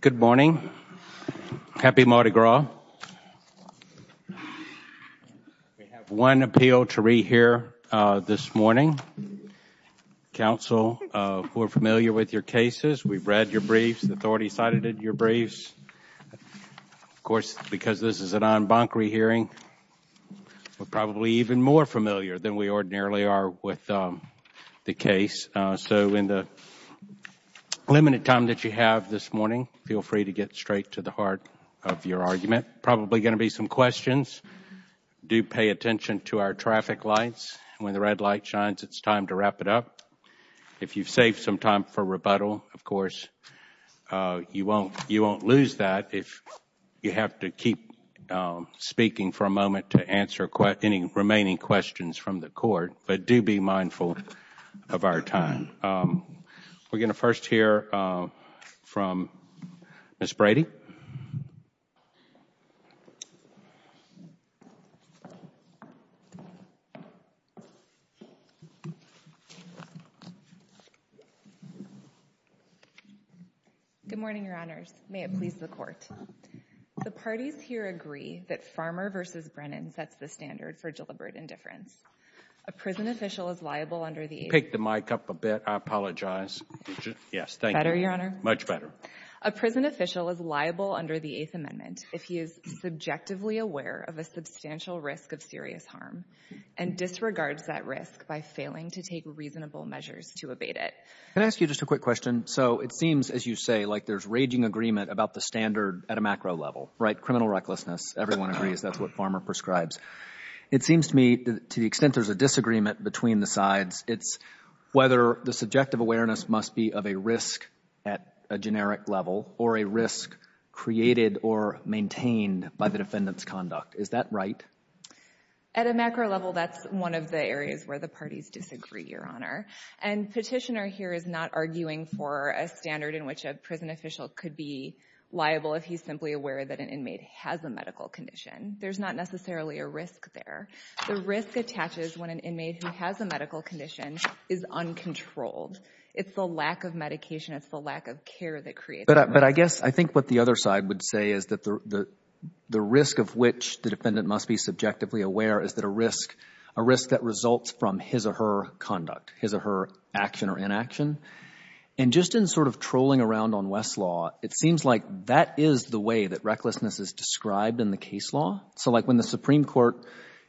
Good morning. Happy Mardi Gras. We have one appeal to re-hear this morning. Council, we're familiar with your cases. We've read your briefs. The authorities cited in your briefs. Of course, because this is an en banc re-hearing, we're probably even more familiar than we the case. So in the limited time that you have this morning, feel free to get straight to the heart of your argument. Probably going to be some questions. Do pay attention to our traffic lights. When the red light shines, it's time to wrap it up. If you've saved some time for rebuttal, of course, you won't lose that if you have to keep speaking for a moment to answer any remaining questions from the Court. But do be mindful of our time. We're going to first hear from Ms. Brady. Good morning, Your Honors. May it please the Court. The parties here agree that Farmer v. Brennan sets the standard for deliberate indifference. A prison official is liable under the Eighth Amendment if he is subjectively aware of a substantial risk of serious harm and disregards that risk by failing to take reasonable measures to abate it. Can I ask you just a quick question? So it seems, as you say, like there's raging agreement about the standard at a macro level, right? Criminal recklessness. Everyone agrees that's what Farmer prescribes. It seems to me to the extent there's a disagreement between the sides, it's whether the subjective awareness must be of a risk at a generic level or a risk created or maintained by the defendant's conduct. Is that right? At a macro level, that's one of the areas where the parties disagree, Your Honor. And the Petitioner here is not arguing for a standard in which a prison official could be liable if he's simply aware that an inmate has a medical condition. There's not necessarily a risk there. The risk attaches when an inmate who has a medical condition is uncontrolled. It's the lack of medication. It's the lack of care that creates the risk. But I guess I think what the other side would say is that the risk of which the defendant must be subjectively aware is that a risk, a risk that results from his or her conduct, his or her action or inaction. And just in sort of trolling around on West's law, it seems like that is the way that recklessness is described in the case law. So like when the Supreme Court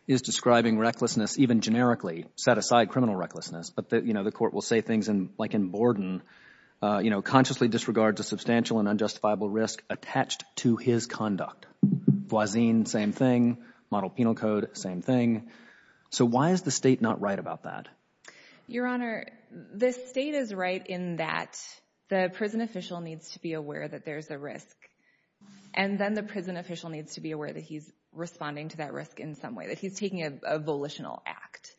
is describing recklessness even generically, set aside criminal recklessness, but the court will say things like in Borden, you know, consciously disregards a substantial and unjustifiable risk attached to his conduct. Boisin, same thing. Model Penal Code, same thing. So why is the state not right about that? Your Honor, the state is right in that the prison official needs to be aware that there's a risk. And then the prison official needs to be aware that he's responding to that risk in some way, that he's taking a volitional act.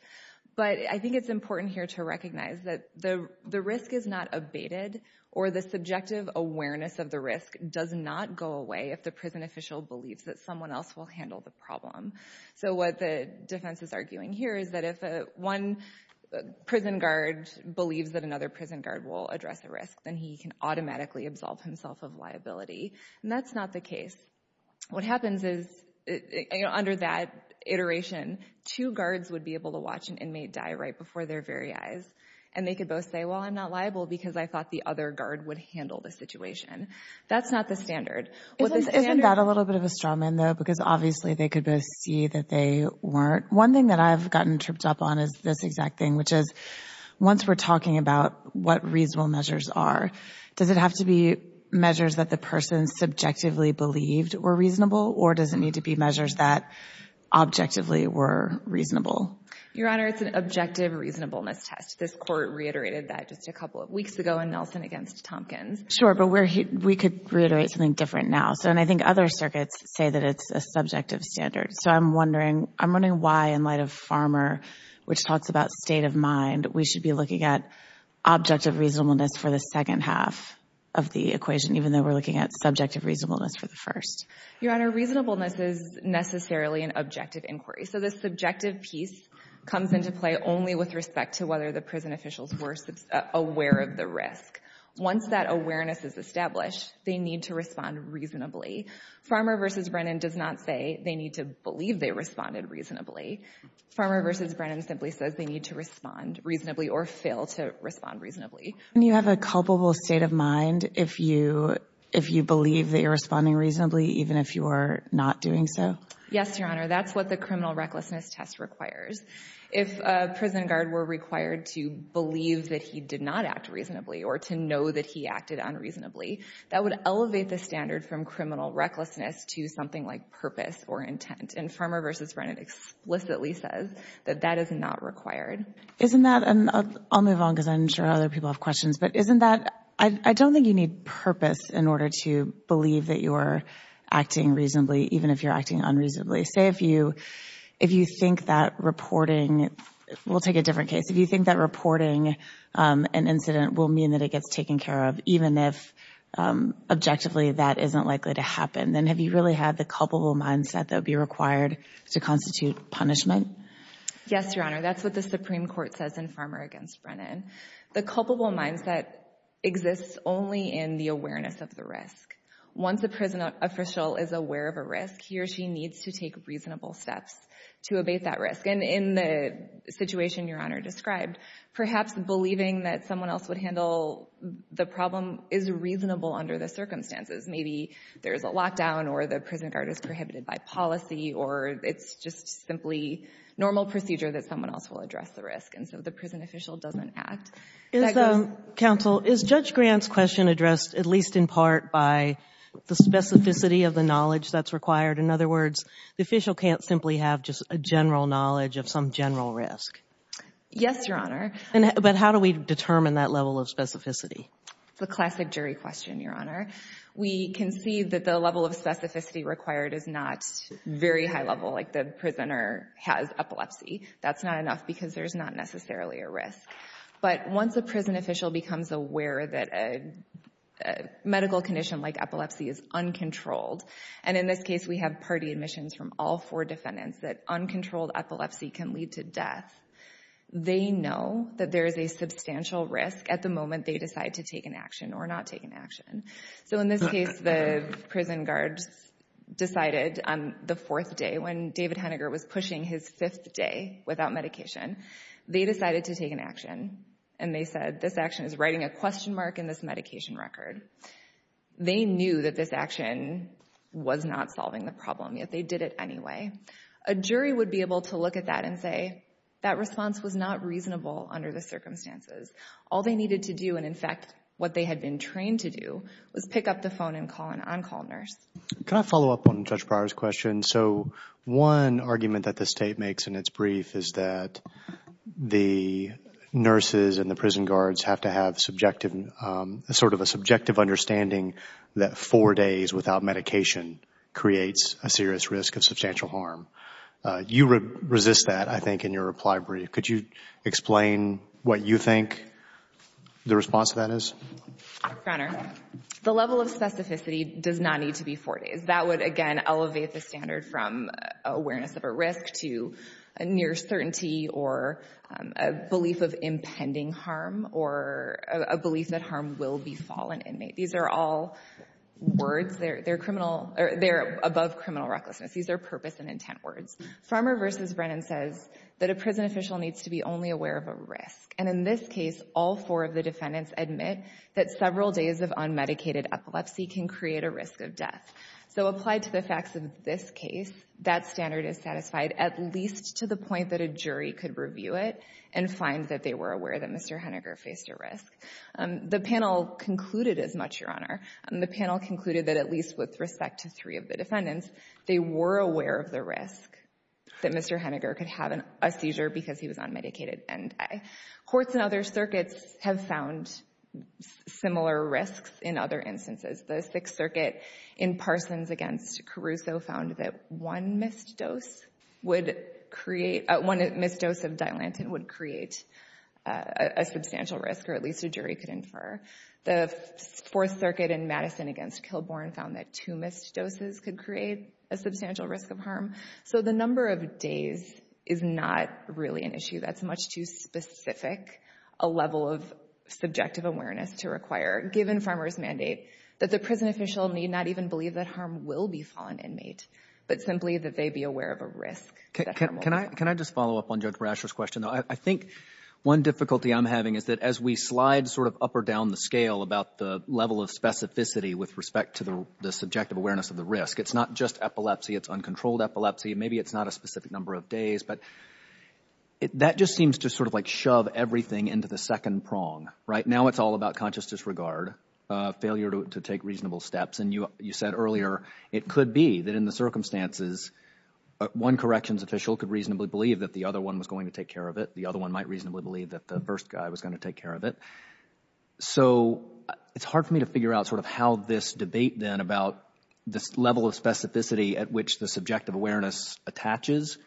But I think it's important here to recognize that the risk is not abated or the subjective awareness of the risk does not go away if the prison official believes that someone else will handle the problem. So what the prison guard believes that another prison guard will address the risk, then he can automatically absolve himself of liability. And that's not the case. What happens is under that iteration, two guards would be able to watch an inmate die right before their very eyes. And they could both say, well, I'm not liable because I thought the other guard would handle the situation. That's not the standard. Isn't that a little bit of a straw man though? Because obviously they could both see that they weren't. One thing that I've gotten tripped up on is this exact thing, which is once we're talking about what reasonable measures are, does it have to be measures that the person subjectively believed were reasonable or does it need to be measures that objectively were reasonable? Your Honor, it's an objective reasonableness test. This court reiterated that just a couple of weeks ago in Nelson against Tompkins. Sure. But we could reiterate something different now. So and I think other circuits say that it's a subjective standard. So I'm wondering, I'm wondering why in light of Farmer, which talks about state of mind, we should be looking at objective reasonableness for the second half of the equation, even though we're looking at subjective reasonableness for the first. Your Honor, reasonableness is necessarily an objective inquiry. So the subjective piece comes into play only with respect to whether the prison officials were aware of the risk. Once that awareness is established, they need to respond reasonably. Farmer versus Brennan does not say they need to believe they responded reasonably. Farmer versus Brennan simply says they need to respond reasonably or fail to respond reasonably. And you have a culpable state of mind if you if you believe that you're responding reasonably, even if you are not doing so? Yes, Your Honor. That's what the criminal recklessness test requires. If a prison guard were required to believe that he did not act reasonably or to know that he acted unreasonably, that would elevate the standard from criminal recklessness to something like purpose or intent. And Farmer versus Brennan explicitly says that that is not required. Isn't that, and I'll move on because I'm sure other people have questions, but isn't that, I don't think you need purpose in order to believe that you're acting reasonably, even if you're acting unreasonably. Say if you, if you think that reporting, we'll take a different case, if you think that reporting an incident will mean that it gets taken care of, even if objectively that isn't likely to happen, then have you really had the culpable mindset that would be required to constitute punishment? Yes, Your Honor. That's what the Supreme Court says in Farmer against Brennan. The culpable mindset exists only in the awareness of the risk. Once a prison official is aware of a risk, he or she needs to take reasonable steps to abate that risk. And in the situation Your Honor, the problem is reasonable under the circumstances. Maybe there's a lockdown or the prison guard is prohibited by policy, or it's just simply normal procedure that someone else will address the risk. And so the prison official doesn't act that way. Is the, counsel, is Judge Grant's question addressed at least in part by the specificity of the knowledge that's required? In other words, the official can't simply have just a general knowledge of some general risk. Yes, Your Honor. But how do we determine that level of specificity? It's a classic jury question, Your Honor. We can see that the level of specificity required is not very high level, like the prisoner has epilepsy. That's not enough because there's not necessarily a risk. But once a prison official becomes aware that a medical condition like epilepsy is uncontrolled, and in this case we have party admissions from all four that there is a substantial risk at the moment they decide to take an action or not take an action. So in this case, the prison guards decided on the fourth day when David Henniger was pushing his fifth day without medication, they decided to take an action. And they said this action is writing a question mark in this medication record. They knew that this action was not solving the problem, yet they did it anyway. A jury would be able to look at that and say that response was not reasonable under the circumstances. All they needed to do, and in fact what they had been trained to do, was pick up the phone and call an on-call nurse. Can I follow up on Judge Pryor's question? So one argument that the state makes in its brief is that the nurses and the prison guards have to have subjective, sort of a subjective understanding that four days without medication creates a serious risk of substantial harm. You resist that, I think, in your reply brief. Could you explain what you think the response to that is? Your Honor, the level of specificity does not need to be four days. That would again elevate the standard from awareness of a risk to a near certainty or a belief of impending harm or a belief that harm will befall an inmate. These are all words. They are above criminal recklessness. These are purpose and intent words. Farmer v. Brennan says that a prison official needs to be only aware of a risk. And in this case, all four of the defendants admit that several days of unmedicated epilepsy can create a risk of death. So applied to the facts of this case, that standard is satisfied, at least to the point that a jury could review it and find that they were aware that Mr. Henniger faced a risk. The panel concluded as much, Your Honor. The panel concluded that at least with respect to three of the defendants, they were aware of the risk that Mr. Henniger could have a seizure because he was unmedicated. And courts in other circuits have found similar risks in other instances. The Sixth Circuit in Parsons v. Caruso found that one missed dose would create, one missed dose of Dilantin would create a substantial risk or at least a jury could infer. The Fourth Circuit in Madison v. Kilbourn found that two missed doses could create a substantial risk of harm. So the number of days is not really an issue. That is much too specific a level of subjective awareness to require, given Farmer's mandate, that the prison official need not even believe that harm will befall an inmate, but simply that they be aware of a risk that harm will befall. Can I just follow up on Judge Brasher's question? I think one difficulty I am having is that as we slide sort of up or down the scale about the level of specificity with respect to the subjective awareness of the risk, it is not just epilepsy. It is uncontrolled epilepsy. Maybe it is not a specific number of days, but that just seems to sort of like shove everything into the second prong, right? Now it is all about conscious disregard, failure to take reasonable steps. And you said earlier it could be that in the circumstances one corrections official could reasonably believe that the other one was going to take care of it. The other one might reasonably believe that the first guy was going to take care of it. So it is hard for me to figure out sort of how this debate then about this level of specificity at which the subjective awareness attaches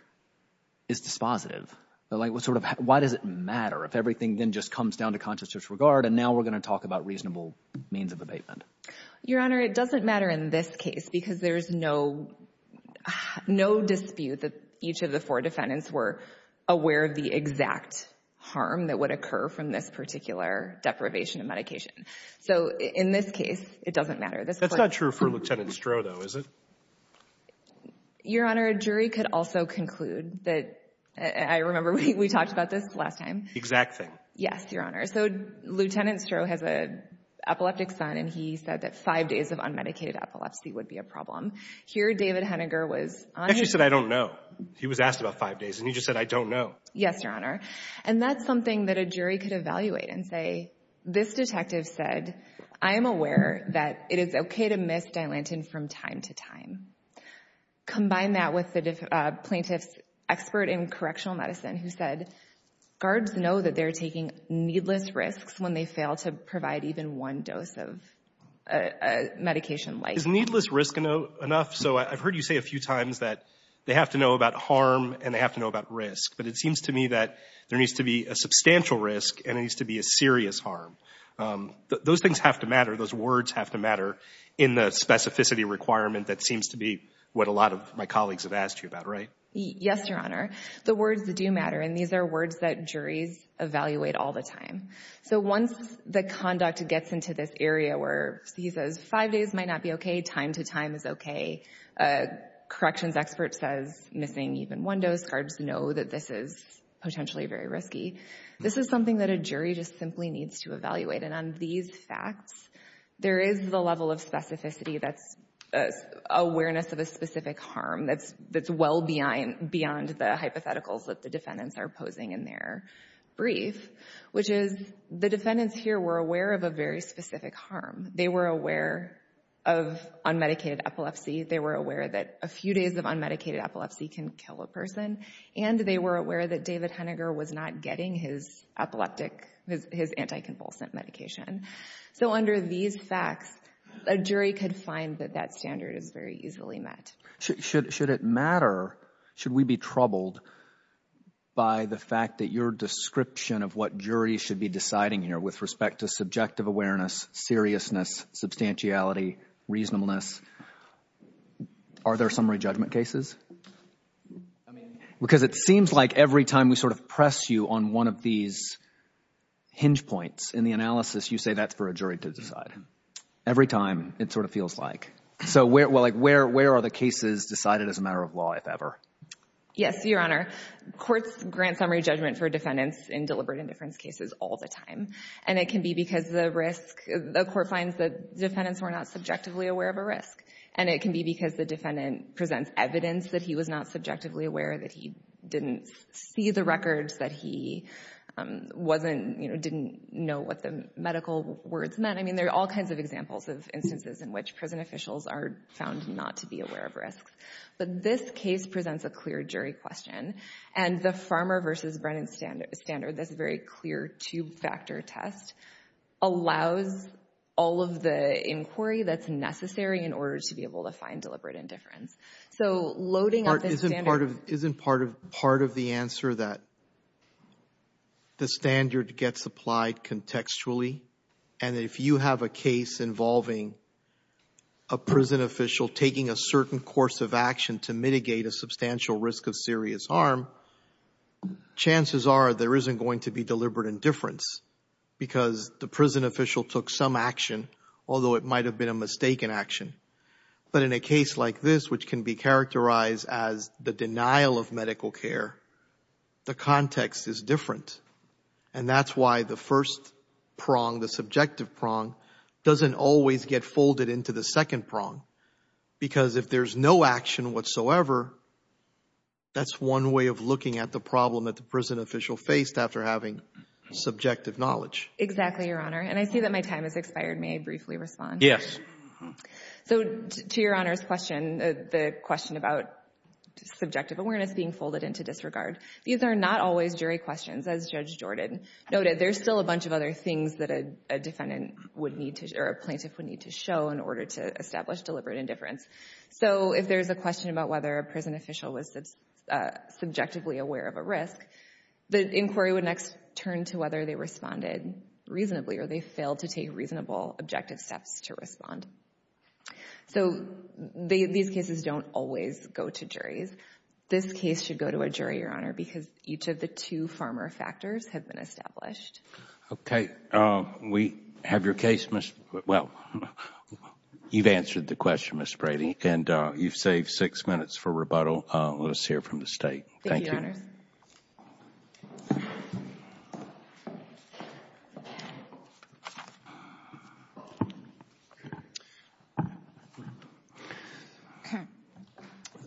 is dispositive. Why does it matter if everything then just comes down to conscious disregard and now we are going to talk about reasonable means of abatement? Your Honor, it doesn't matter in this case because there is no dispute that each of the four defendants were aware of the exact harm that would occur from this particular deprivation of medication. So in this case, it doesn't matter. That is not true for Lieutenant Stroh though, is it? Your Honor, a jury could also conclude that, I remember we talked about this last time. Exact thing. Yes, Your Honor. So Lieutenant Stroh has an epileptic son and he said that five days of unmedicated epilepsy would be a problem. Here, David Henniger was on his way. He said, I don't know. He was asked about five days and he just said, I don't know. Yes, Your Honor. And that is something that a jury could evaluate and say, this detective said, I am aware that it is okay to miss Dilantin from time to time. Combine that with the plaintiff's expert in correctional medicine who said, guards know that they are taking needless risks when they fail to provide even one dose of medication like that. Is needless risk enough? So I've heard you say a few times that they have to know about harm and they have to know about risk. But it seems to me that there needs to be a substantial risk and it needs to be a serious harm. Those things have to matter. Those words have to matter in the specificity requirement that seems to be what a lot of my colleagues have asked you about, right? Yes, Your Honor. The words that do matter and these are words that juries evaluate all the time. So once the conduct gets into this area where he says, five days might not be okay, time to time is okay, corrections expert says missing even one dose, guards know that this is potentially very risky, this is something that a jury just simply needs to evaluate. And on these facts, there is the level of specificity that's awareness of a specific harm that's well beyond the hypotheticals that the defendants are posing in their brief, which is the defendants here were aware of a very specific harm. They were aware of unmedicated epilepsy. They were aware that a few days of unmedicated epilepsy can kill a person. And they were aware that David Henniger was not getting his epileptic, his anticonvulsant medication. So under these facts, a jury could find that that standard is very easily met. Should it matter, should we be troubled by the fact that your description of what juries should be deciding here with respect to subjective awareness, seriousness, substantiality, reasonableness, are there summary judgment cases? Because it seems like every time we sort of press you on one of these hinge points in the analysis, you say that's for a jury to decide. Every time it sort of feels like. So where are the cases decided as a matter of law, if ever? Yes, Your Honor. Courts grant summary judgment for defendants in deliberate indifference cases all the time. And it can be because the risk, the court finds that defendants were not subjectively aware of a risk. And it can be because the defendant presents evidence that he was not subjectively aware, that he didn't see the records, that he wasn't, didn't know what the medical words meant. I mean, there are all kinds of examples of instances in which prison officials are found not to be aware of risks. But this case presents a clear jury question. And the Farmer v. Brennan standard, this very clear two-factor test, allows all of the inquiry that's necessary in order to be able to find deliberate indifference. So loading up this standard... Isn't part of the answer that the standard gets applied contextually? And if you have a case involving a prison official taking a certain course of action to mitigate a substantial risk of serious harm, chances are there isn't going to be deliberate indifference because the prison official took some action, although it might have been a mistaken action. But in a case like this, which can be characterized as the denial of medical care, the context is different. And that's why the first prong, the subjective prong, doesn't always get folded into the second prong. Because if there's no action whatsoever, that's one way of looking at the problem that the prison official faced after having subjective knowledge. Exactly, Your Honor. And I see that my time has expired. May I briefly respond? Yes. So to Your Honor's question, the question about subjective awareness being folded into disregard, these are not always jury questions. As Judge Jordan noted, there's still a bunch of other things that a defendant would need to... Or a plaintiff would need to show in order to establish deliberate indifference. So if there's a question about whether a prison official was subjectively aware of a risk, the inquiry would next turn to whether they responded reasonably or they failed to take reasonable objective steps to respond. So these cases don't always go to juries. This case should go to a jury, Your Honor, because each of the two farmer factors have been established. Okay. We have your case, Ms. Brady. Well, you've answered the question, Ms. Brady, and you've saved six minutes for rebuttal. Let us hear from the State. Thank you. Thank you, Your Honors.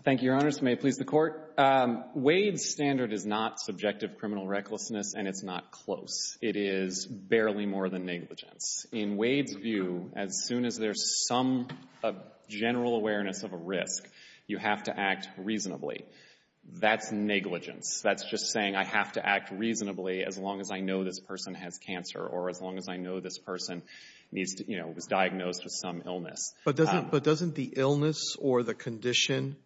Thank you, Your Honors. May it please the Court. Wade's standard is not subjective criminal recklessness, and it's not close. It is barely more than negligence. In Wade's view, as soon as there's some general awareness of a risk, you have to act reasonably. That's negligence. That's just saying I have to act reasonably as long as I know this person has cancer or as long as I know this person was diagnosed with some illness. But doesn't the illness or the condition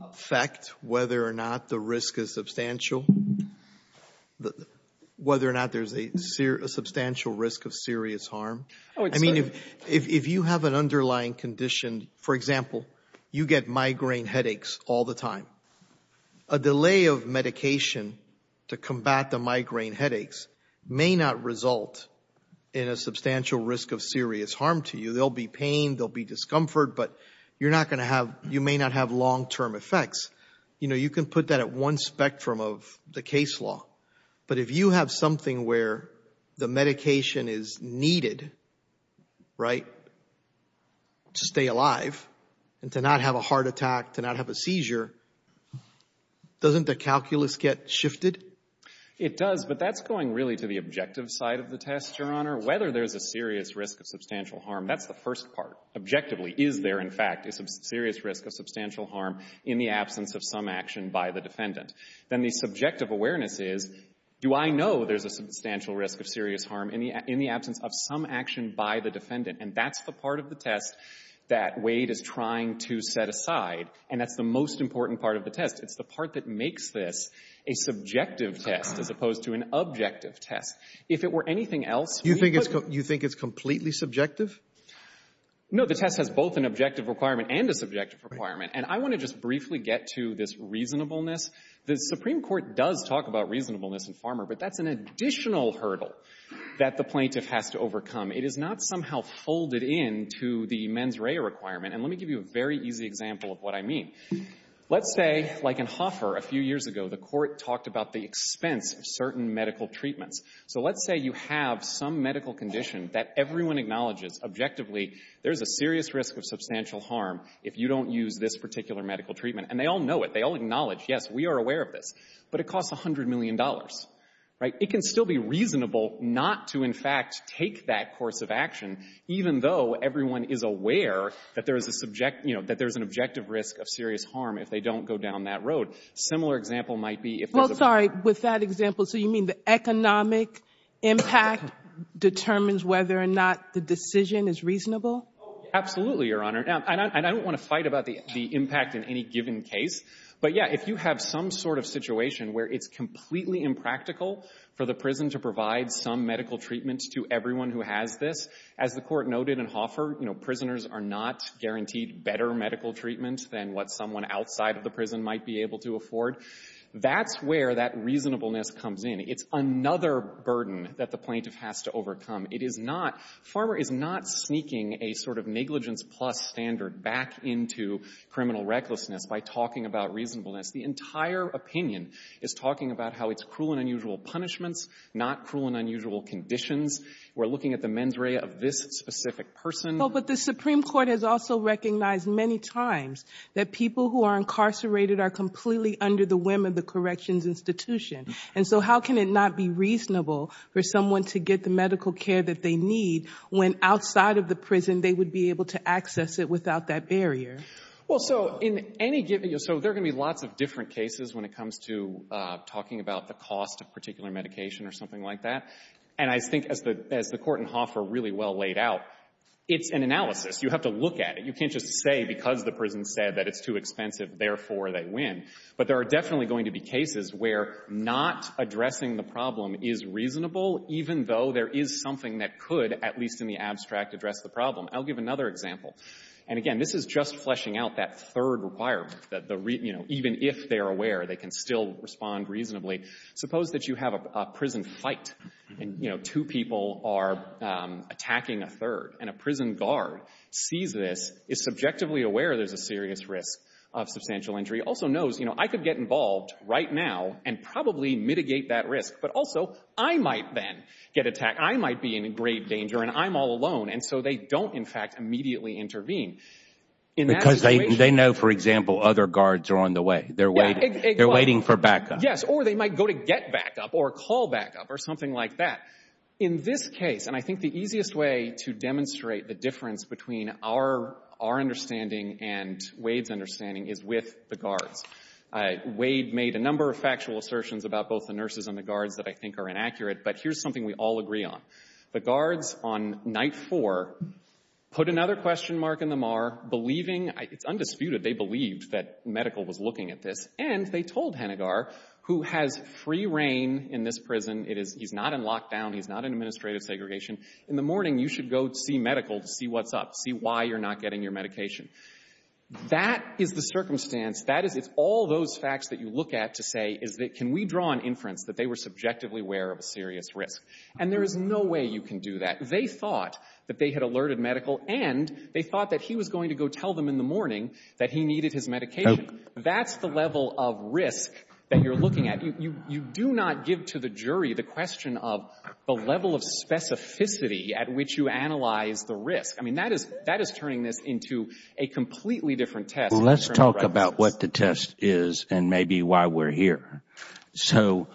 affect whether or not the risk is substantial, whether or not there's a substantial risk of serious harm? Oh, it's fine. I mean, if you have an underlying condition, for example, you get migraine headaches all the time. A delay of medication to combat the migraine headaches may not result in a substantial risk of serious harm to you. There'll be pain, there'll be discomfort, but you're not going to have, you may not have long-term effects. You know, you can put that at one spectrum of the case law. But if you have something where the medication is needed, right, to stay alive and to not have a heart attack, to not have a seizure, doesn't the calculus get shifted? It does, but that's going really to the objective side of the test, Your Honor. Whether there's a serious risk of substantial harm, that's the first part. Objectively, is there in fact a serious risk of substantial harm in the absence of some action by the defendant? Then the subjective awareness is, do I know there's a substantial risk of serious harm in the absence of some action by the defendant? And that's the part of the test that Wade is trying to set aside, and that's the most important part of the test. It's the part that makes this a subjective test as opposed to an objective test. If it were anything else, we would You think it's completely subjective? No, the test has both an objective requirement and a subjective requirement. And I want to just briefly get to this reasonableness. The Supreme Court does talk about reasonableness in Farmer, but that's an additional hurdle that the plaintiff has to overcome. It is not somehow folded in to the mens rea requirement. And let me give you a very easy example of what I mean. Let's say, like in Hoffer a few years ago, the Court talked about the expense of certain medical treatments. So let's say you have some medical condition that everyone acknowledges objectively there's a serious risk of substantial harm if you don't use this particular medical treatment. And they all know it. They all acknowledge, yes, we are aware of this. But it costs $100 million, right? It can still be reasonable not to, in fact, take that course of action, even though everyone is aware that there is a subject you know, that there's an objective risk of serious harm if they don't go down that road. Similar example might be if there's a Well, sorry. With that example, so you mean the economic impact determines whether or not the decision is reasonable? Oh, absolutely, Your Honor. And I don't want to fight about the impact in any given case. But, yeah, if you have some sort of situation where it's completely impractical for the prison to provide some medical treatment to everyone who has this, as the Court noted in Hoffer, you know, prisoners are not guaranteed better medical treatment than what someone outside of the prison might be able to afford, that's where that reasonableness comes in. It's another burden that the plaintiff has to overcome. It is not — Farmer is not sneaking a sort of negligence-plus standard back into criminal recklessness by talking about reasonableness. The entire opinion is talking about how it's cruel and unusual punishments, not cruel and unusual conditions. We're looking at the mens rea of this specific person. Well, but the Supreme Court has also recognized many times that people who are incarcerated are completely under the whim of the corrections institution. And so how can it not be reasonable for someone to get the medical care that they need when outside of the prison they would be able to access it without that barrier? Well, so in any given — so there are going to be lots of different cases when it comes to talking about the cost of particular medication or something like that. And I think as the Court in Hoffer really well laid out, it's an analysis. You have to look at it. You can't just say because the prison said that it's too expensive, therefore they win. But there are definitely going to be cases where not addressing the problem is reasonable even though there is something that could, at least in the abstract, address the problem. I'll give another example. And again, this is just fleshing out that third requirement, that the — you know, even if they're aware, they can still respond reasonably. Suppose that you have a prison fight, and, you know, two people are attacking a third, and a prison guard sees this, is subjectively aware there's a serious risk of substantial injury, also knows, you know, I could get involved right now and probably mitigate that risk. But also, I might then get attacked. I might be in grave danger, and I'm all alone. And so they don't, in fact, immediately intervene. Because they know, for example, other guards are on the way. They're waiting for backup. Yes, or they might go to get backup or call backup or something like that. In this case, and I think the easiest way to demonstrate the difference between our understanding and Wade's understanding is with the guards. Wade made a number of factual assertions about both the nurses and the guards that I think are inaccurate, but here's something we all agree on. The guards on night four put another question mark in the MAR, believing — it's undisputed they believed that medical was looking at this. And they told Hennigar, who has free reign in this prison. It is — he's not in lockdown. He's not in administrative segregation. In the morning, you should go see medical to see what's up, see why you're not getting your medication. That is the circumstance. That is — it's all those facts that you look at to say, is that can we draw an inference that they were subjectively aware of a serious risk? And there is no way you can do that. They thought that they had alerted medical, and they thought that he was going to go tell them in the morning that he needed his medication. That's the level of risk that you're looking at. You — you do not give to the jury the question of the level of specificity at which you analyze the risk. I mean, that is — that is turning this into a completely different test. Well, let's talk about what the test is and maybe why we're here. So,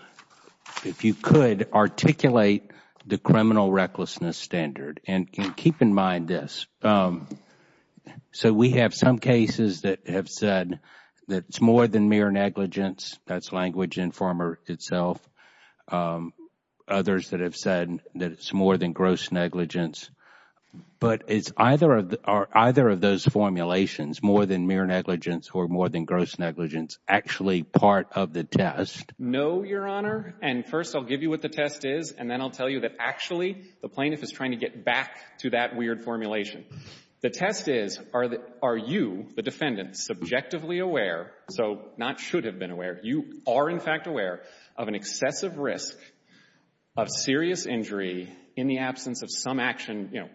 if you could articulate the criminal recklessness standard. And keep in mind this. So, we have some cases that have said that it's more than mere negligence. That's language informer itself. Others that have said that it's more than gross negligence. But is either of those formulations, more than mere negligence or more than gross negligence, actually part of the test? No, Your Honor. And first, I'll give you what the test is, and then I'll tell you that actually the plaintiff is trying to get back to that weird formulation. The test is, are you, the defendant, subjectively aware — so, not should have been aware. You are, in fact, aware of an excessive risk of serious injury in the absence of some action, you know,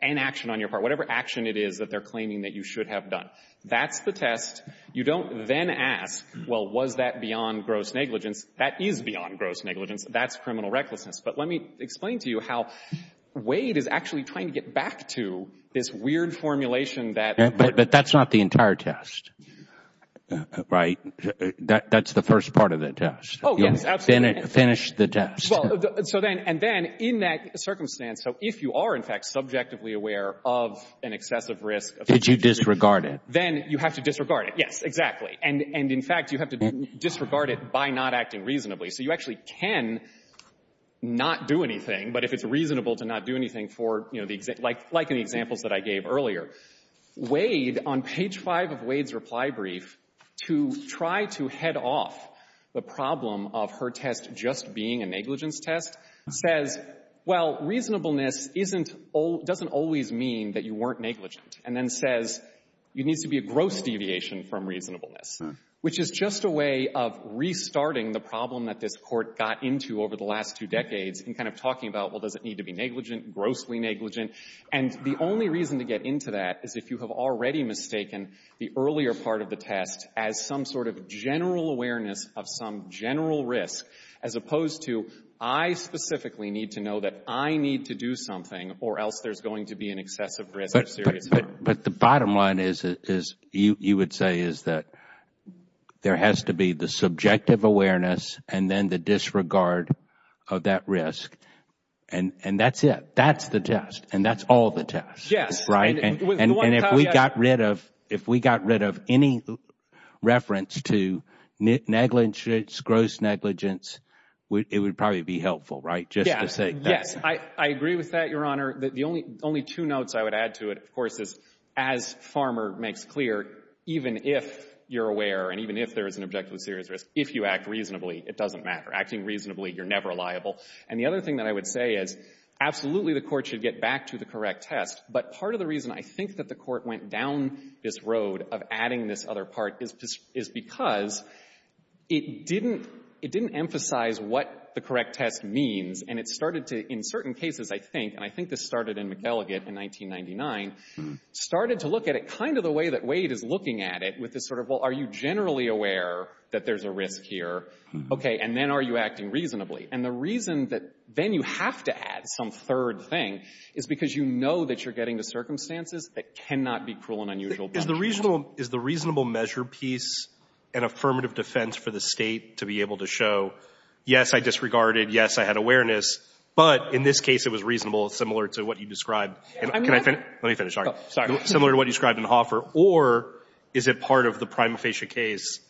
an action on your part. Whatever action it is that they're claiming that you should have done. That's the test. You don't then ask, well, was that beyond gross negligence? That is beyond gross negligence. That's criminal recklessness. But let me explain to you how Wade is actually trying to get back to this weird formulation that — It's the first part of the test. Oh, yes. Absolutely. Finish the test. Well, so then — and then, in that circumstance, so if you are, in fact, subjectively aware of an excessive risk of — Did you disregard it? Then you have to disregard it. Yes, exactly. And in fact, you have to disregard it by not acting reasonably. So you actually can not do anything. But if it's reasonable to not do anything for, you know, the — like in the examples that I gave earlier, Wade, on off, the problem of her test just being a negligence test says, well, reasonableness isn't — doesn't always mean that you weren't negligent, and then says you need to be a gross deviation from reasonableness, which is just a way of restarting the problem that this Court got into over the last two decades in kind of talking about, well, does it need to be negligent, grossly negligent? And the only reason to get into that is if you have already mistaken the earlier part of the test as some sort of general awareness of some general risk, as opposed to I specifically need to know that I need to do something or else there's going to be an excessive risk of serious harm. But the bottom line is, you would say, is that there has to be the subjective awareness and then the disregard of that risk. And that's it. That's the test. And that's all the test. Yes. And if we got rid of — if we got rid of any reference to negligence, gross negligence, it would probably be helpful, right, just to say that. Yes. I agree with that, Your Honor. The only two notes I would add to it, of course, is as Farmer makes clear, even if you're aware and even if there is an objective of serious risk, if you act reasonably, it doesn't matter. Acting reasonably, you're never liable. And the other thing that I would say is, absolutely, the Court should get back to the correct test. But part of the reason I think that the Court went down this road of adding this other part is because it didn't emphasize what the correct test means. And it started to, in certain cases, I think, and I think this started in McElligot in 1999, started to look at it kind of the way that Wade is looking at it, with this sort of, well, are you generally aware that there's a risk here? Okay. And then are you acting the circumstances that cannot be cruel and unusual? Is the reasonable measure piece an affirmative defense for the State to be able to show, yes, I disregarded, yes, I had awareness, but in this case, it was reasonable, similar to what you described. And can I finish? Let me finish. Sorry. Similar to what you described in Hoffer. Or is it part of the prima facie case,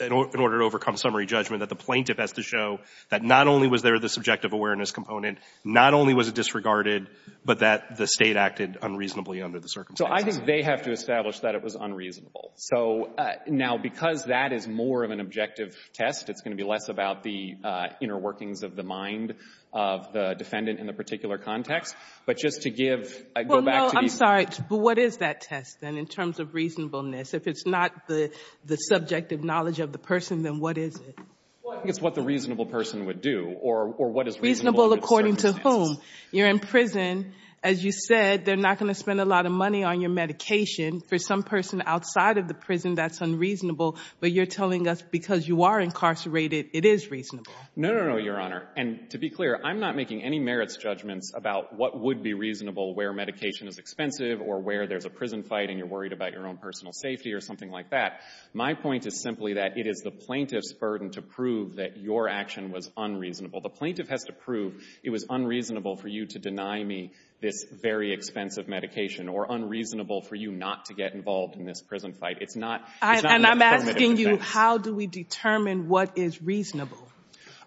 in order to overcome summary judgment, that the plaintiff has to show that not only was there the subjective awareness component, not only was it disregarded, but that the State acted unreasonably under the circumstances? So I think they have to establish that it was unreasonable. So now, because that is more of an objective test, it's going to be less about the inner workings of the mind of the defendant in the particular context. But just to give, I go back to the Well, no, I'm sorry. But what is that test, then, in terms of reasonableness? If it's not the subjective knowledge of the person, then what is it? Well, I think it's what the reasonable person would do. Or what is reasonable according to whom? You're in prison. As you said, they're not going to spend a lot of money on your medication. For some person outside of the prison, that's unreasonable. But you're telling us, because you are incarcerated, it is reasonable. No, no, no, Your Honor. And to be clear, I'm not making any merits judgments about what would be reasonable, where medication is expensive, or where there's a prison fight, and you're worried about your own personal safety, or something like that. My point is simply that it is the plaintiff's burden to prove that your to prove it was unreasonable for you to deny me this very expensive medication, or unreasonable for you not to get involved in this prison fight. It's not And I'm asking you, how do we determine what is reasonable?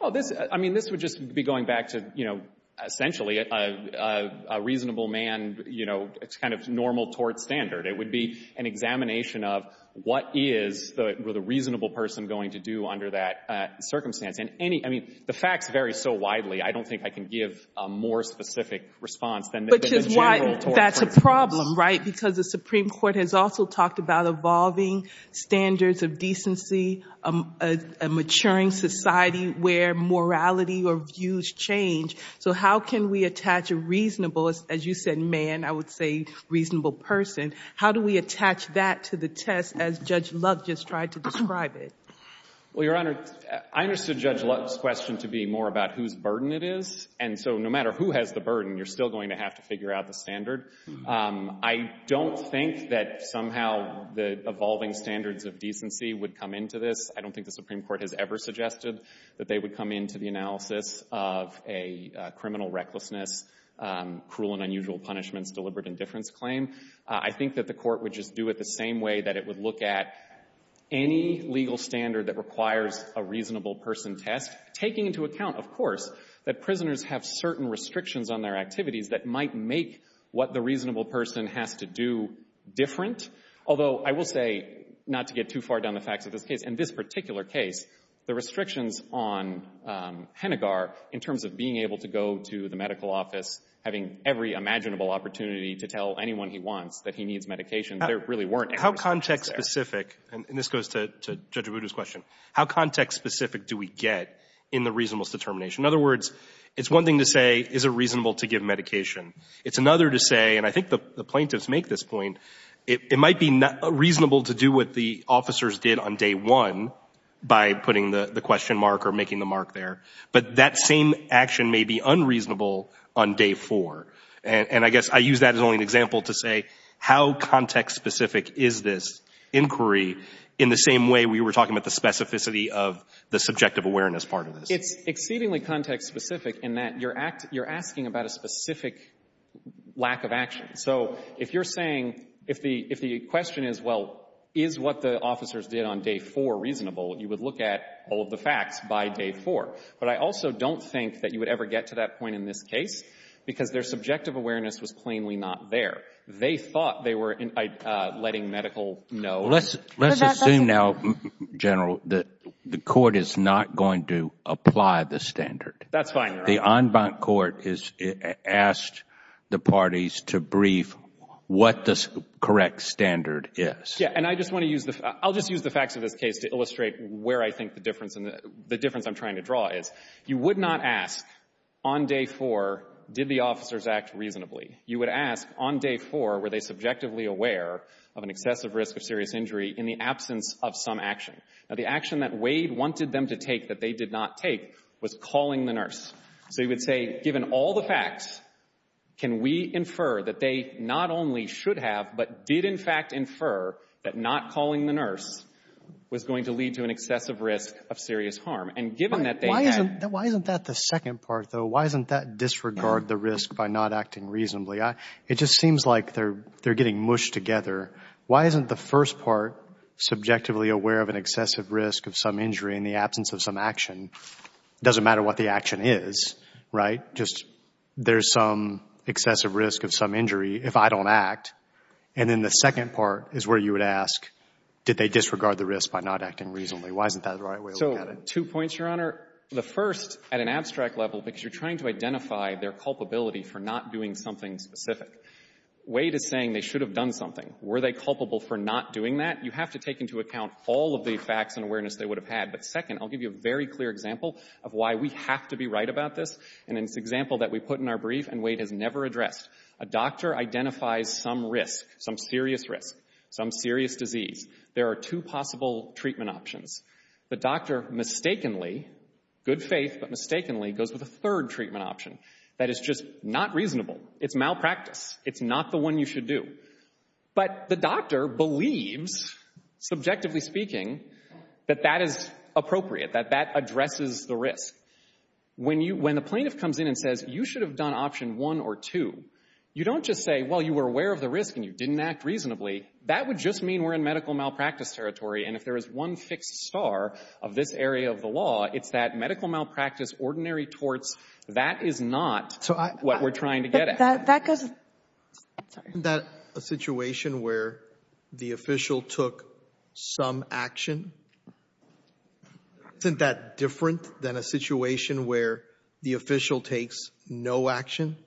Oh, this, I mean, this would just be going back to, you know, essentially a reasonable man, you know, it's kind of normal tort standard. It would be an examination of what is the reasonable person going to do under that circumstance. And any, I mean, the facts vary so widely, I don't think I can give a more specific response than Which is why that's a problem, right? Because the Supreme Court has also talked about evolving standards of decency, a maturing society where morality or views change. So how can we attach a reasonable, as you said, man, I would say reasonable person. How do we attach that to the test as Judge Love just tried to describe it? Well, Your Honor, I understood Judge Love's question to be more about whose burden it is. And so no matter who has the burden, you're still going to have to figure out the standard. I don't think that somehow the evolving standards of decency would come into this. I don't think the Supreme Court has ever suggested that they would come into the analysis of a criminal recklessness, cruel and unusual punishments, deliberate indifference claim. I think that the court would just do it the same way that it would look at any legal standard that requires a reasonable person test, taking into account, of course, that prisoners have certain restrictions on their activities that might make what the reasonable person has to do different. Although I will say, not to get too far down the facts of this case, in this particular case, the restrictions on Hennigar in terms of being able to go to the medical office, having every imaginable opportunity to tell anyone he wants that he needs medication, there really weren't any restrictions there. How context specific, and this goes to Judge Abudu's question, how context specific do we get in the reasonableness determination? In other words, it's one thing to say, is it reasonable to give medication? It's another to say, and I think the plaintiffs make this point, it might be reasonable to do what the officers did on day one by putting the question mark or making the mark there. But that same action may be unreasonable on day four. And I guess I use that as only an example to say, how context specific is this inquiry in the same way we were talking about the specificity of the subjective awareness part of this? It's exceedingly context specific in that you're asking about a specific lack of action. So if you're saying, if the question is, well, is what the officers did on day four reasonable, you would look at all of the facts by day four. But I also don't think that you would ever get to that point in this case, because their subjective awareness was plainly not there. They thought they were letting medical know. Let's assume now, General, that the court is not going to apply the standard. That's fine. The en banc court has asked the parties to brief what the correct standard is. Yeah, and I just want to use the, I'll just use the facts of this case to illustrate where I think the difference, the difference I'm trying to draw is. You would not ask, on day four, did the officers act reasonably? You would ask, on day four, were they subjectively aware of an excessive risk of serious injury in the absence of some action? Now, the action that Wade wanted them to take that they did not take was calling the nurse. So you would say, given all the facts, can we infer that they not only should have, but did, in fact, infer that not calling the nurse was going to lead to an excessive risk of serious harm? And given that they had Why isn't that the second part, though? Why isn't that disregard the risk by not acting reasonably? It just seems like they're getting mushed together. Why isn't the first part subjectively aware of an excessive risk of some injury in the absence of some action? Doesn't matter what the action is, right? Just there's some excessive risk of some injury if I don't act. And then the second part is where you would ask, did they disregard the risk by not acting reasonably? Why isn't that the right way to look at it? Two points, Your Honor. The first, at an abstract level, because you're trying to identify their culpability for not doing something specific. Wade is saying they should have done something. Were they culpable for not doing that? You have to take into account all of the facts and awareness they would have had. But second, I'll give you a very clear example of why we have to be right about this. And it's an example that we put in our brief and Wade has never addressed. A doctor identifies some risk, some serious risk, some serious disease. There are two possible treatment options. The doctor mistakenly, good faith but mistakenly, goes with a third treatment option that is just not reasonable. It's malpractice. It's not the one you should do. But the doctor believes, subjectively speaking, that that is appropriate, that that addresses the risk. When the plaintiff comes in and says, you should have done option one or two, you don't just say, well, you were aware of the risk and you didn't act reasonably. That would just mean we're in medical malpractice territory. And if there is one fixed star of this area of the law, it's that medical malpractice, ordinary torts, that is not what we're trying to get at. Isn't that a situation where the official took some action? Isn't that different than a situation where the official takes no action?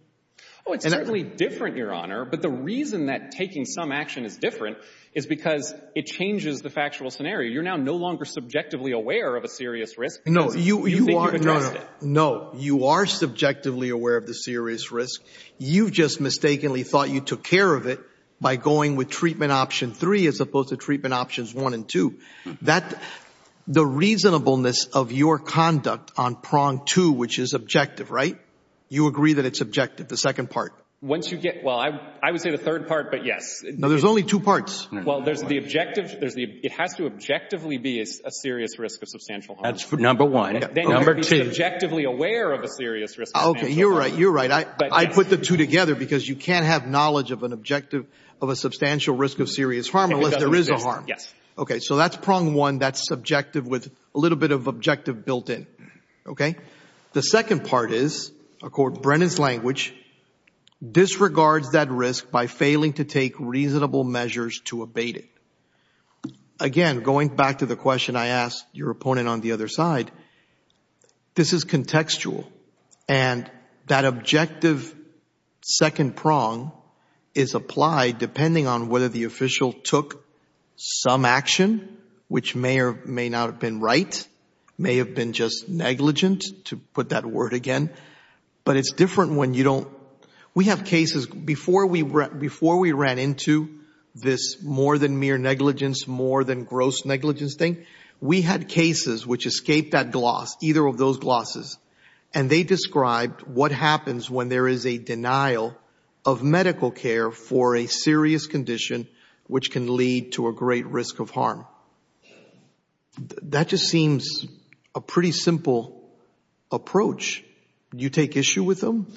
Oh, it's certainly different, Your Honor. But the reason that taking some action is different is because it changes the factual scenario. You're now no longer subjectively aware of a serious risk. No, you are. No, you are subjectively aware of the serious risk. You just mistakenly thought you took care of it by going with treatment option three as opposed to treatment options one and two. That, the reasonableness of your conduct on prong two, which is objective, right? You agree that it's objective, the second part. Once you get, well, I would say the third part, but yes. No, there's only two parts. Well, there's the objective, it has to objectively be a serious risk of substantial harm. That's number one. Number two. Then you have to be subjectively aware of a serious risk. Okay, you're right, you're right. I put the two together because you can't have knowledge of an objective of a substantial risk of serious harm unless there is a harm. Yes. Okay, so that's prong one, that's subjective with a little bit of objective built in, okay? The second part is, according to Brennan's language, disregards that risk by failing to take reasonable measures to abate it. Again, going back to the question I asked your opponent on the other side, this is contextual, and that objective second prong is applied depending on whether the official took some action, which may or may not have been right, may have been just negligent, to put that We have cases, before we ran into this more than mere negligence, more than gross negligence thing, we had cases which escaped that gloss, either of those glosses, and they described what happens when there is a denial of medical care for a serious condition which can lead to a great risk of harm. That just seems a pretty simple approach. You take issue with them?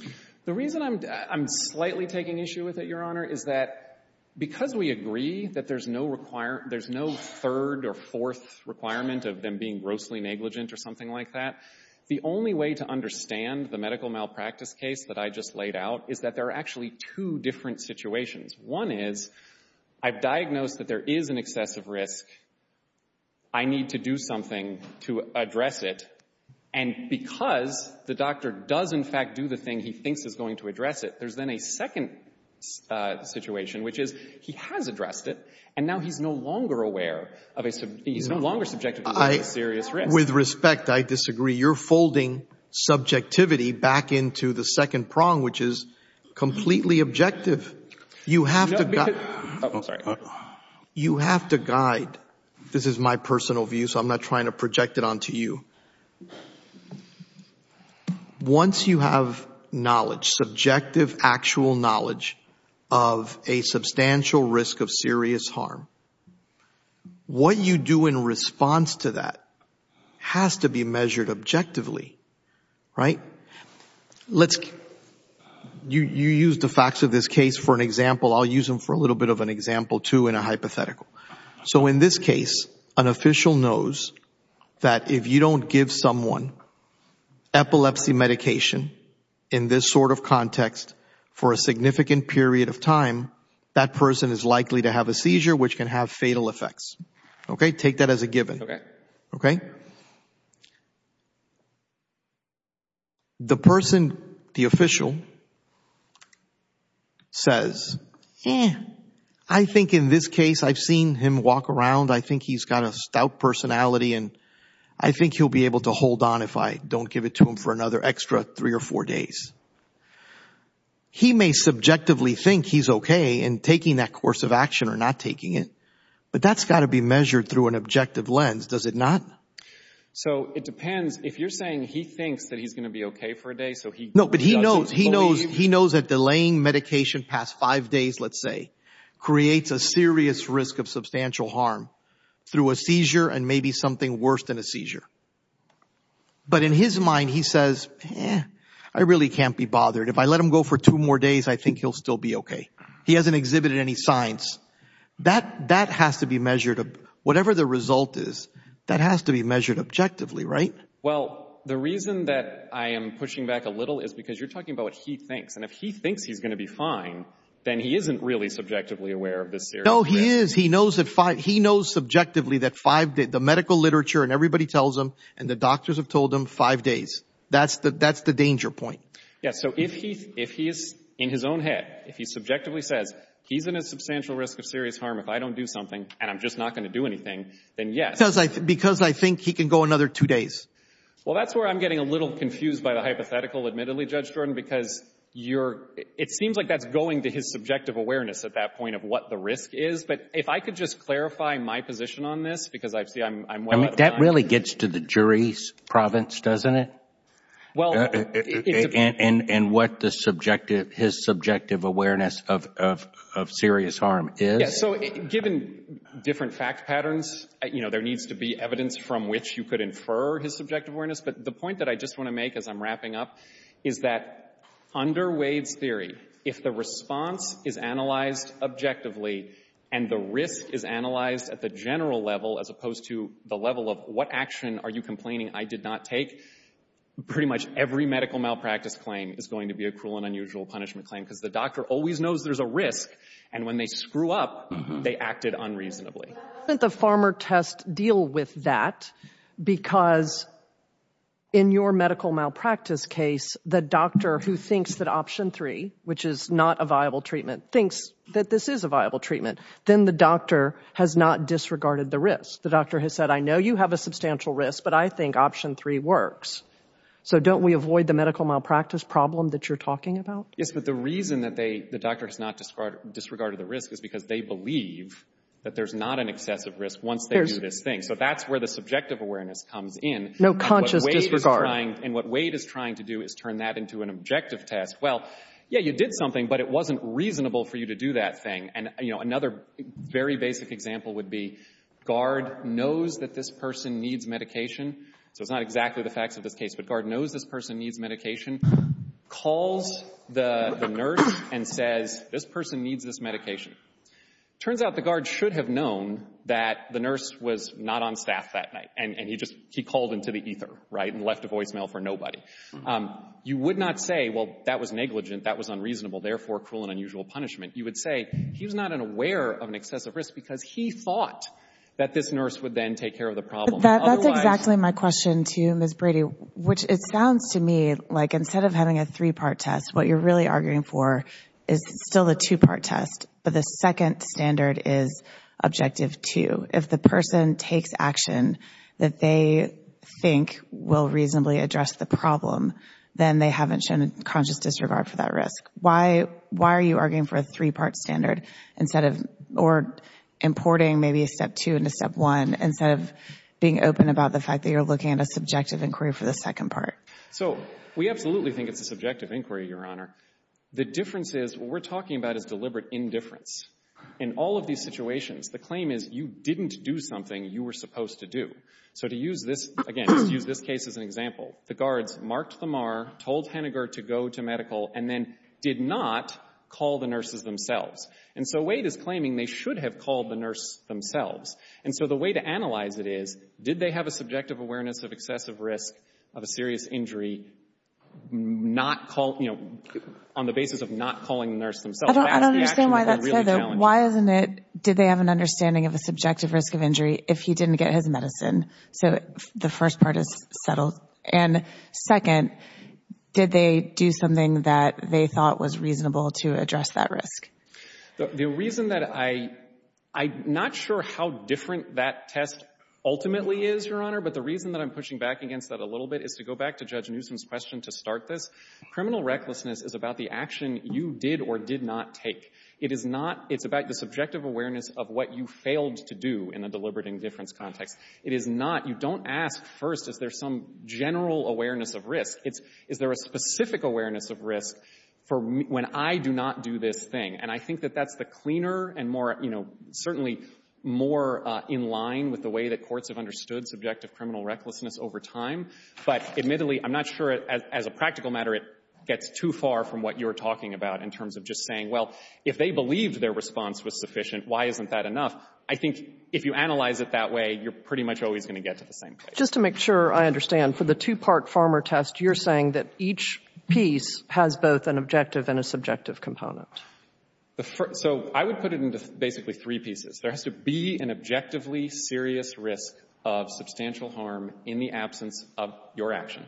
The reason I'm slightly taking issue with it, Your Honor, is that because we agree that there's no third or fourth requirement of them being grossly negligent or something like that, the only way to understand the medical malpractice case that I just laid out is that there are actually two different situations. One is, I've diagnosed that there is an excessive risk. I need to do something to address it. And because the doctor does, in fact, do the thing he thinks is going to address it, there's then a second situation, which is he has addressed it, and now he's no longer aware of a—he's no longer subjective about the serious risk. With respect, I disagree. You're folding subjectivity back into the second prong, which is completely objective. You have to—oh, I'm sorry. You have to guide. This is my personal view, so I'm not trying to project it onto you. Once you have knowledge, subjective, actual knowledge of a substantial risk of serious harm, what you do in response to that has to be measured objectively, right? Let's—you used the facts of this case for an example. I'll use them for a little bit of an example, too, in a hypothetical. So in this case, an official knows that if you don't give someone epilepsy medication in this sort of context for a significant period of time, that person is likely to have a seizure, which can have fatal effects. Okay? Take that as a given. The person, the official, says, I think in this case, I've seen him walk around. I think he's got a stout personality, and I think he'll be able to hold on if I don't give it to him for another extra three or four days. He may subjectively think he's okay in taking that course of action or not taking it, but that's got to be measured through an objective lens, does it not? So it depends. If you're saying he thinks that he's going to be okay for a day, so he— No, but he knows. He knows that delaying medication past five days, let's say, creates a serious risk of substantial harm through a seizure and maybe something worse than a seizure. But in his mind, he says, I really can't be bothered. If I let him go for two more days, I think he'll still be okay. He hasn't exhibited any signs. That has to be measured. Whatever the result is, that has to be measured objectively, right? Well, the reason that I am pushing back a little is because you're talking about what he thinks, and if he thinks he's going to be fine, then he isn't really subjectively aware of the serious risk. No, he is. He knows subjectively that the medical literature and everybody tells him, and the doctors have told him, five days. That's the danger point. Yeah, so if he's in his own head, if he subjectively says, he's in a substantial risk of serious harm if I don't do something and I'm just not going to do anything, then yes. Because I think he can go another two days. Well, that's where I'm getting a little confused by the hypothetical, admittedly, Judge Jordan, because it seems like that's going to his subjective awareness at that point of what the risk is. But if I could just clarify my position on this, because I see I'm well out of time. That really gets to the jury's province, doesn't it? And what his subjective awareness of serious harm is. So given different fact patterns, there needs to be evidence from which you could infer his subjective awareness. But the point that I just want to make as I'm wrapping up is that under Wade's theory, if the response is analyzed objectively and the risk is analyzed at the general level as opposed to the level of what action are you complaining I did not take, pretty much every medical malpractice claim is going to be a cruel and unusual punishment claim because the doctor always knows there's a risk. And when they screw up, they acted unreasonably. Doesn't the farmer test deal with that? Because in your medical malpractice case, the doctor who thinks that option three, which is not a viable treatment, thinks that this is a viable treatment, then the doctor has not disregarded the risk. The doctor has said, I know you have a substantial risk, but I think option three works. So don't we avoid the medical malpractice problem that you're talking about? Yes, but the reason that the doctor has not disregarded the risk is because they believe that there's not an excessive risk once they do this thing. So that's where the subjective awareness comes in. No conscious disregard. And what Wade is trying to do is turn that into an objective test. Well, yeah, you did something, but it wasn't reasonable for you to do that thing. And another very basic example would be guard knows that this person needs medication. So it's not exactly the facts of this case, but guard knows this person needs medication, calls the nurse and says, this person needs this medication. Turns out the guard should have known that the nurse was not on staff that night. And he just, he called into the ether, right? And left a voicemail for nobody. You would not say, well, that was negligent, that was unreasonable, therefore cruel and unusual punishment. You would say he was not aware of an excessive risk because he thought that this nurse would then take care of the problem. That's exactly my question to you, which it sounds to me like instead of having a three-part test, what you're really arguing for is still the two-part test. But the second standard is objective two. If the person takes action that they think will reasonably address the problem, then they haven't shown a conscious disregard for that risk. Why are you arguing for a three-part standard instead of, or importing maybe a step two into step one, instead of being open about the fact that you're looking at a subjective inquiry for the second part? So we absolutely think it's a subjective inquiry, Your Honor. The difference is what we're talking about is deliberate indifference. In all of these situations, the claim is you didn't do something you were supposed to do. So to use this, again, to use this case as an example, the guards marked the MAR, told Hennigar to go to medical, and then did not call the nurses themselves. And so Wade is claiming they should have called the nurse themselves. And so the way to analyze it is, did they have a subjective awareness of excessive risk of a serious injury on the basis of not calling the nurse themselves? That's the action that they're really challenging. I don't understand why that's said, though. Why isn't it, did they have an understanding of a subjective risk of injury if he didn't get his medicine? So the first part is settled. And second, did they do something that they thought was reasonable to address that risk? The reason that I — I'm not sure how different that test ultimately is, Your Honor, but the reason that I'm pushing back against that a little bit is to go back to Judge Newsom's question to start this. Criminal recklessness is about the action you did or did not take. It is not — it's about the subjective awareness of what you failed to do in a deliberate indifference context. It is not — you don't ask first, is there some general awareness of risk? It's, is there a specific awareness of risk for when I do not do this thing? And I think that that's the cleaner and more, you know, certainly more in line with the way that courts have understood subjective criminal recklessness over time. But admittedly, I'm not sure, as a practical matter, it gets too far from what you're talking about in terms of just saying, well, if they believed their response was sufficient, why isn't that enough? I think if you analyze it that way, you're pretty much always going to get to the same place. Just to make sure I understand, for the two-part farmer test, you're saying that each piece has both an objective and a subjective component? So I would put it into basically three pieces. There has to be an objectively serious risk of substantial harm in the absence of your action.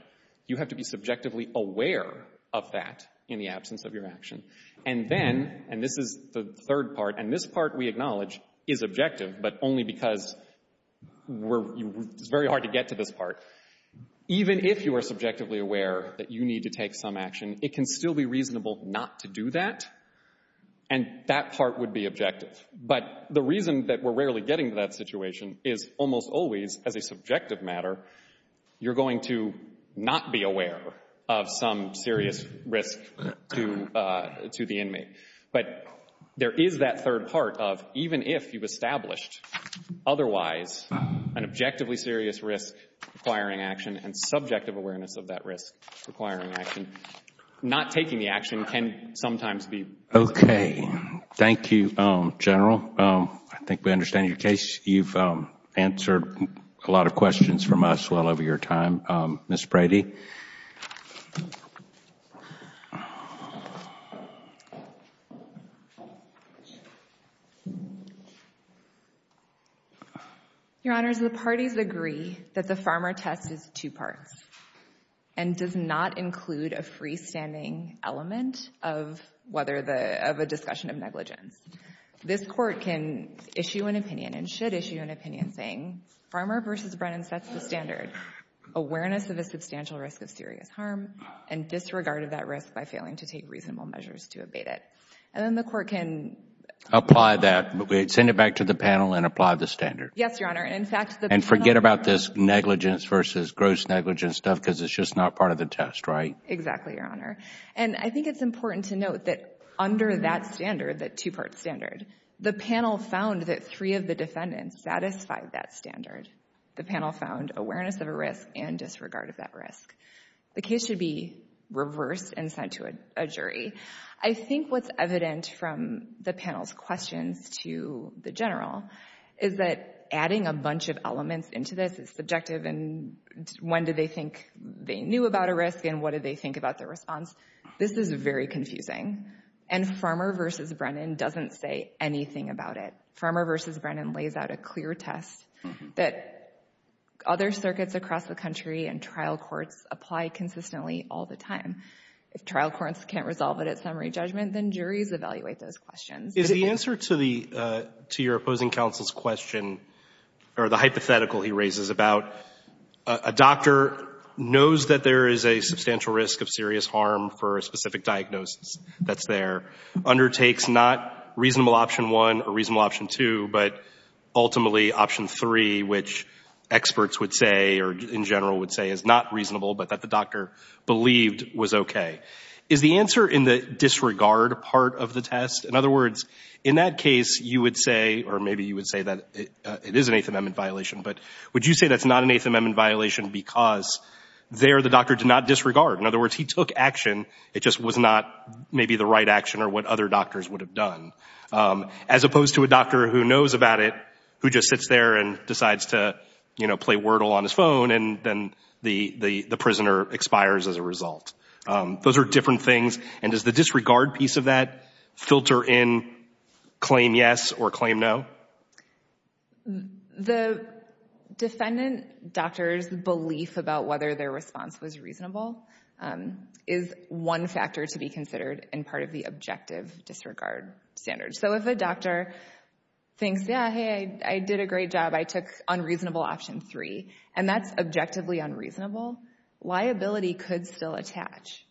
You have to be subjectively aware of that in the absence of your action. And then — and this is the third part, and this part we acknowledge is objective, but only because we're — it's very hard to get to this part. Even if you are subjectively aware that you need to take some action, it can still be reasonable not to do that, and that part would be objective. But the reason that we're rarely getting to that situation is almost always, as a subjective matter, you're going to not be aware of some serious risk to the inmate. But there is that serious risk requiring action and subjective awareness of that risk requiring action. Not taking the action can sometimes be — Okay. Thank you, General. I think we understand your case. You've answered a lot of questions from us well over your time. Ms. Brady? Your Honors, the parties agree that the Farmer test is two parts and does not include a freestanding element of whether the — of a discussion of negligence. This Court can issue an opinion and should issue an opinion saying, Farmer v. Brennan sets the standard. Awareness of harm and disregard of that risk by failing to take reasonable measures to abate it. And then the Court can — Apply that. Send it back to the panel and apply the standard. Yes, Your Honor. In fact — And forget about this negligence versus gross negligence stuff because it's just not part of the test, right? Exactly, Your Honor. And I think it's important to note that under that standard, that two-part standard, the panel found that three of the defendants satisfied that standard. The panel found awareness of a risk and disregard of that risk. The case should be reversed and sent to a jury. I think what's evident from the panel's questions to the General is that adding a bunch of elements into this is subjective and when did they think they knew about a risk and what did they think about their response? This is very confusing. And Farmer v. Brennan doesn't say anything about it. Farmer v. Brennan lays out a clear test that other circuits across the country and trial courts apply consistently all the time. If trial courts can't resolve it at summary judgment, then juries evaluate those questions. Is the answer to your opposing counsel's question or the hypothetical he raises about a doctor knows that there is a substantial risk of serious harm for a specific diagnosis that's there, undertakes not reasonable option one or reasonable option two, but ultimately option three, which experts would say or in general would say is not reasonable, but that the doctor believed was okay. Is the answer in the disregard part of the test? In other words, in that case, you would say, or maybe you would say that it is an Eighth Amendment violation, but would you say that's not an Eighth Amendment violation because there the doctor did not disregard? In other words, he took action, it just was not maybe the right action or what other doctors would have done. As opposed to a doctor who knows about it, who just sits there and decides to, you know, play wordle on his phone and then the prisoner expires as a result. Those are different things. And does the disregard piece of that filter in claim yes or claim no? The defendant doctor's belief about whether their response was reasonable and is one factor to be considered and part of the objective disregard standards. So if a doctor thinks, yeah, hey, I did a great job, I took unreasonable option three, and that's objectively unreasonable, liability could still attach.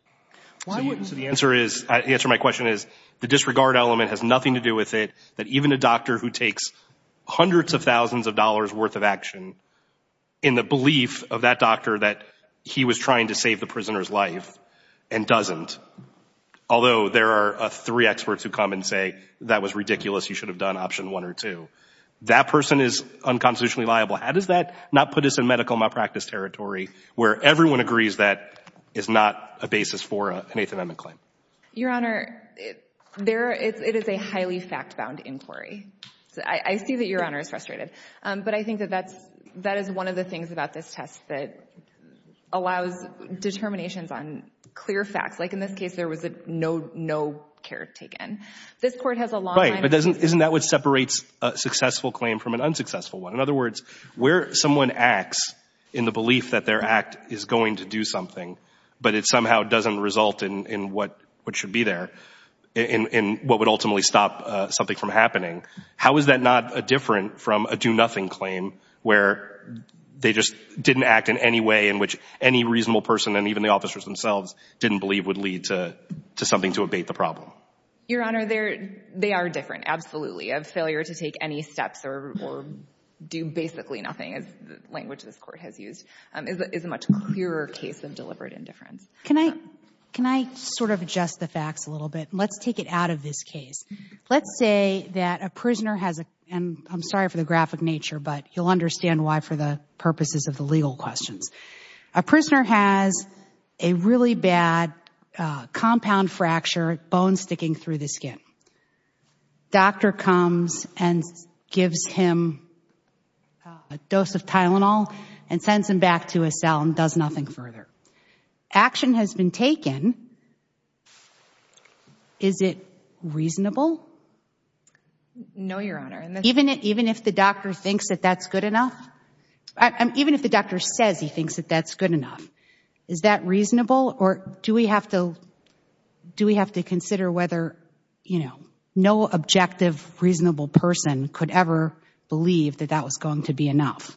So the answer is, the answer to my question is the disregard element has nothing to do with it, that even a doctor who takes hundreds of thousands of dollars worth of action, in the belief of that doctor that he was trying to save the prisoner's life and doesn't. Although there are three experts who come and say that was ridiculous, you should have done option one or two. That person is unconstitutionally liable. How does that not put us in medical malpractice territory, where everyone agrees that is not a basis for an Eighth Amendment claim? Your Honor, it is a highly fact-bound inquiry. I see that Your Honor is frustrated, but I think that that is one of the things about this test that allows determinations on clear facts. Like, in this case, there was no care taken. This Court has a long line of... Right, but isn't that what separates a successful claim from an unsuccessful one? In other words, where someone acts in the belief that their act is going to do something, but it somehow doesn't result in what should be there, in what would ultimately stop something from happening. How is that not different from a do-nothing claim, where they just didn't act in any way in which any reasonable person, and even the officers themselves, didn't believe would lead to something to abate the problem? Your Honor, they are different, absolutely. Failure to take any steps or do basically nothing, as the language this Court has used, is a much clearer case of deliberate indifference. Can I sort of adjust the facts a little bit? Let's take it out of this case. Let's say that a prisoner has a... I'm sorry for the graphic nature, but you'll understand why for the purposes of the legal questions. A prisoner has a really bad compound fracture, bone sticking through the skin. Doctor comes and gives him a dose of Tylenol and sends him back to a cell and does nothing further. Action has been taken. Is it reasonable? No, Your Honor. Even if the doctor thinks that that's good enough? Even if the doctor says he thinks that that's good enough, is that reasonable? Or do we have to consider whether no objective, reasonable person could ever believe that that was going to be enough?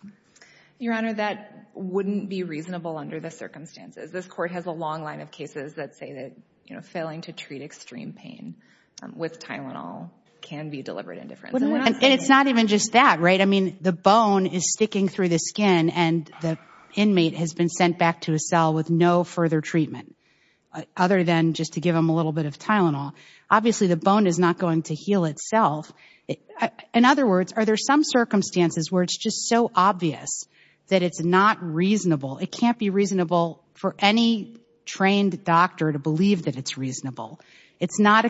Your Honor, that wouldn't be reasonable under the circumstances. This Court has a long line of cases that say that, you know, failing to treat extreme pain with Tylenol can be deliberate indifference. It's not even just that, right? I mean, the bone is sticking through the skin and the inmate has been sent back to a cell with no further treatment, other than just to give him a little bit of Tylenol. Obviously, the bone is not going to heal itself. In other words, are there some circumstances where it's just so obvious that it's not reasonable? It can't be reasonable for any trained doctor to believe that it's reasonable. It's not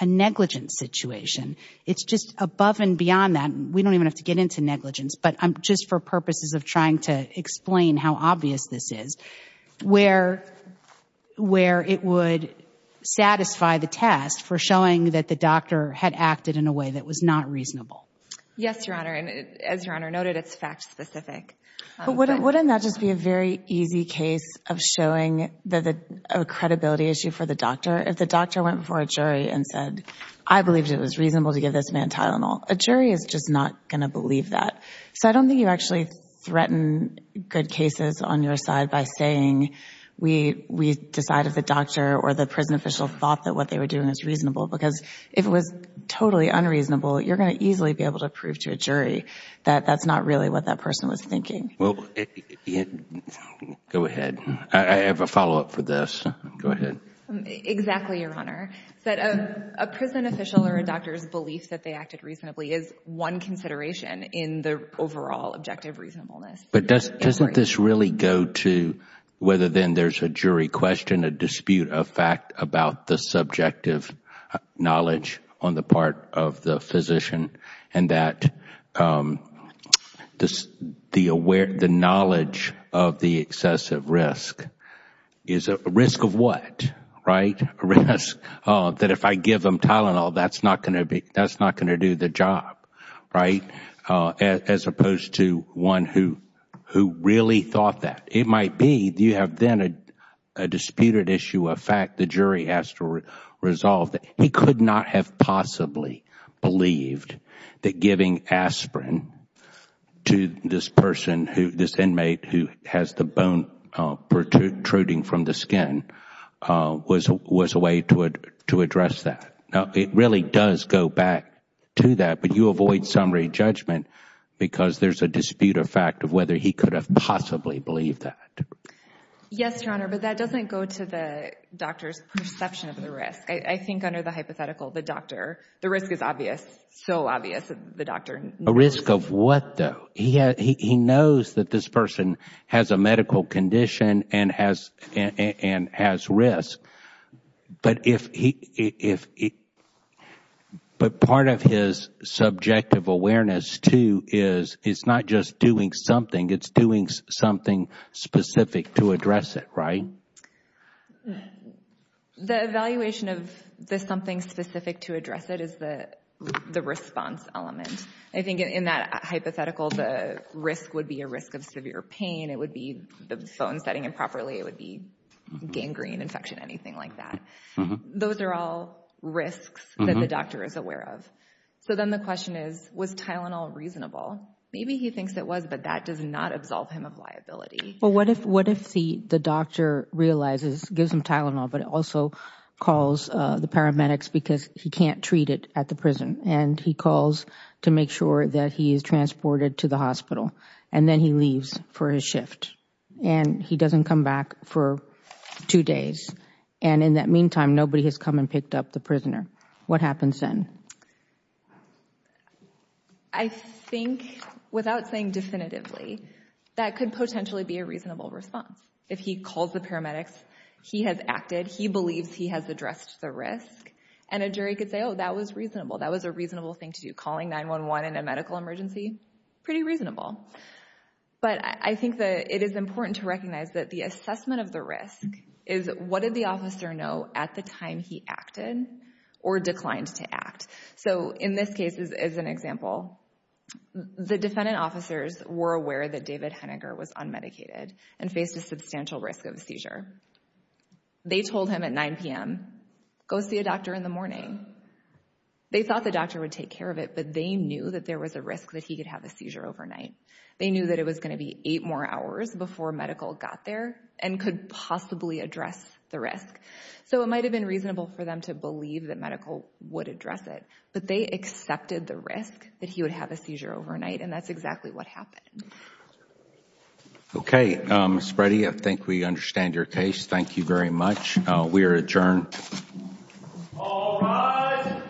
a negligent situation. It's just above and beyond that. We don't even have to get into negligence, but I'm just for purposes of trying to explain how obvious this is, where it would satisfy the test for showing that the doctor had acted in a way that was not reasonable. Yes, Your Honor, and as Your Honor noted, it's fact specific. Wouldn't that just be a very easy case of showing a credibility issue for the doctor? If the doctor went before a jury and said, I believed it was reasonable to give this man Tylenol, a jury is just not going to believe that. So I don't think you actually threaten good cases on your side by saying, we decide if the doctor or the prison official thought that what they were doing was reasonable, because if it was totally unreasonable, you're going to easily be able to prove to a jury that that's not really what that person was thinking. Well, go ahead. I have a follow-up for this. Go ahead. Exactly, Your Honor. That a prison official or a doctor's belief that they acted reasonably is one consideration in the overall objective reasonableness. But doesn't this really go to whether then there's a jury question, a dispute of fact about the subjective knowledge on the part of the physician, and that the knowledge of the excessive risk is a risk of what, right? A risk that if I give him Tylenol, that's not going to do the job. Right? As opposed to one who really thought that. It might be you have then a disputed issue of fact the jury has to resolve. He could not have possibly believed that giving aspirin to this person, this inmate who has the bone protruding from the skin, was a way to address that. It really does go back to that, but you avoid summary judgment because there's a dispute of fact of whether he could have possibly believed that. Yes, Your Honor. But that doesn't go to the doctor's perception of the risk. I think under the hypothetical, the doctor, the risk is obvious, so obvious, the doctor. A risk of what, though? He knows that this person has a medical condition and has risk. But part of his subjective awareness, too, is it's not just doing something, it's doing something specific to address it, right? The evaluation of the something specific to address it is the response element. I think in that hypothetical, the risk would be a risk of severe pain. It would be the bone setting improperly. It would be gangrene infection, anything like that. Those are all risks that the doctor is aware of. So then the question is, was Tylenol reasonable? Maybe he thinks it was, but that does not absolve him of liability. Well, what if the doctor realizes, gives him Tylenol, but also calls the paramedics because he can't treat it at the prison, and he calls to make sure that he is transported to the hospital, and then he leaves for his shift, and he doesn't come back for two days. And in that meantime, nobody has come and picked up the prisoner. What happens then? I think, without saying definitively, that could potentially be a reasonable response. If he calls the paramedics, he has acted, he believes he has addressed the risk, and a jury could say, oh, that was reasonable. That was a reasonable thing to do. Calling 911 in a medical emergency, pretty reasonable. But I think that it is important to recognize that the assessment of the risk is what did the officer know at the time he acted or declined to act. So in this case, as an example, the defendant officers were aware that David Henniger was unmedicated and faced a substantial risk of seizure. They told him at 9 p.m., go see a doctor in the morning. They thought the doctor would take care of it, but they knew that there was a risk that he could have a seizure overnight. They knew that it was going to be eight more hours before medical got there and could possibly address the risk. So it might have been reasonable for them to believe that medical would address it. But they accepted the risk that he would have a seizure overnight, and that's exactly what happened. Okay, Spready, I think we understand your case. Thank you very much. We are adjourned. All rise. Thank you.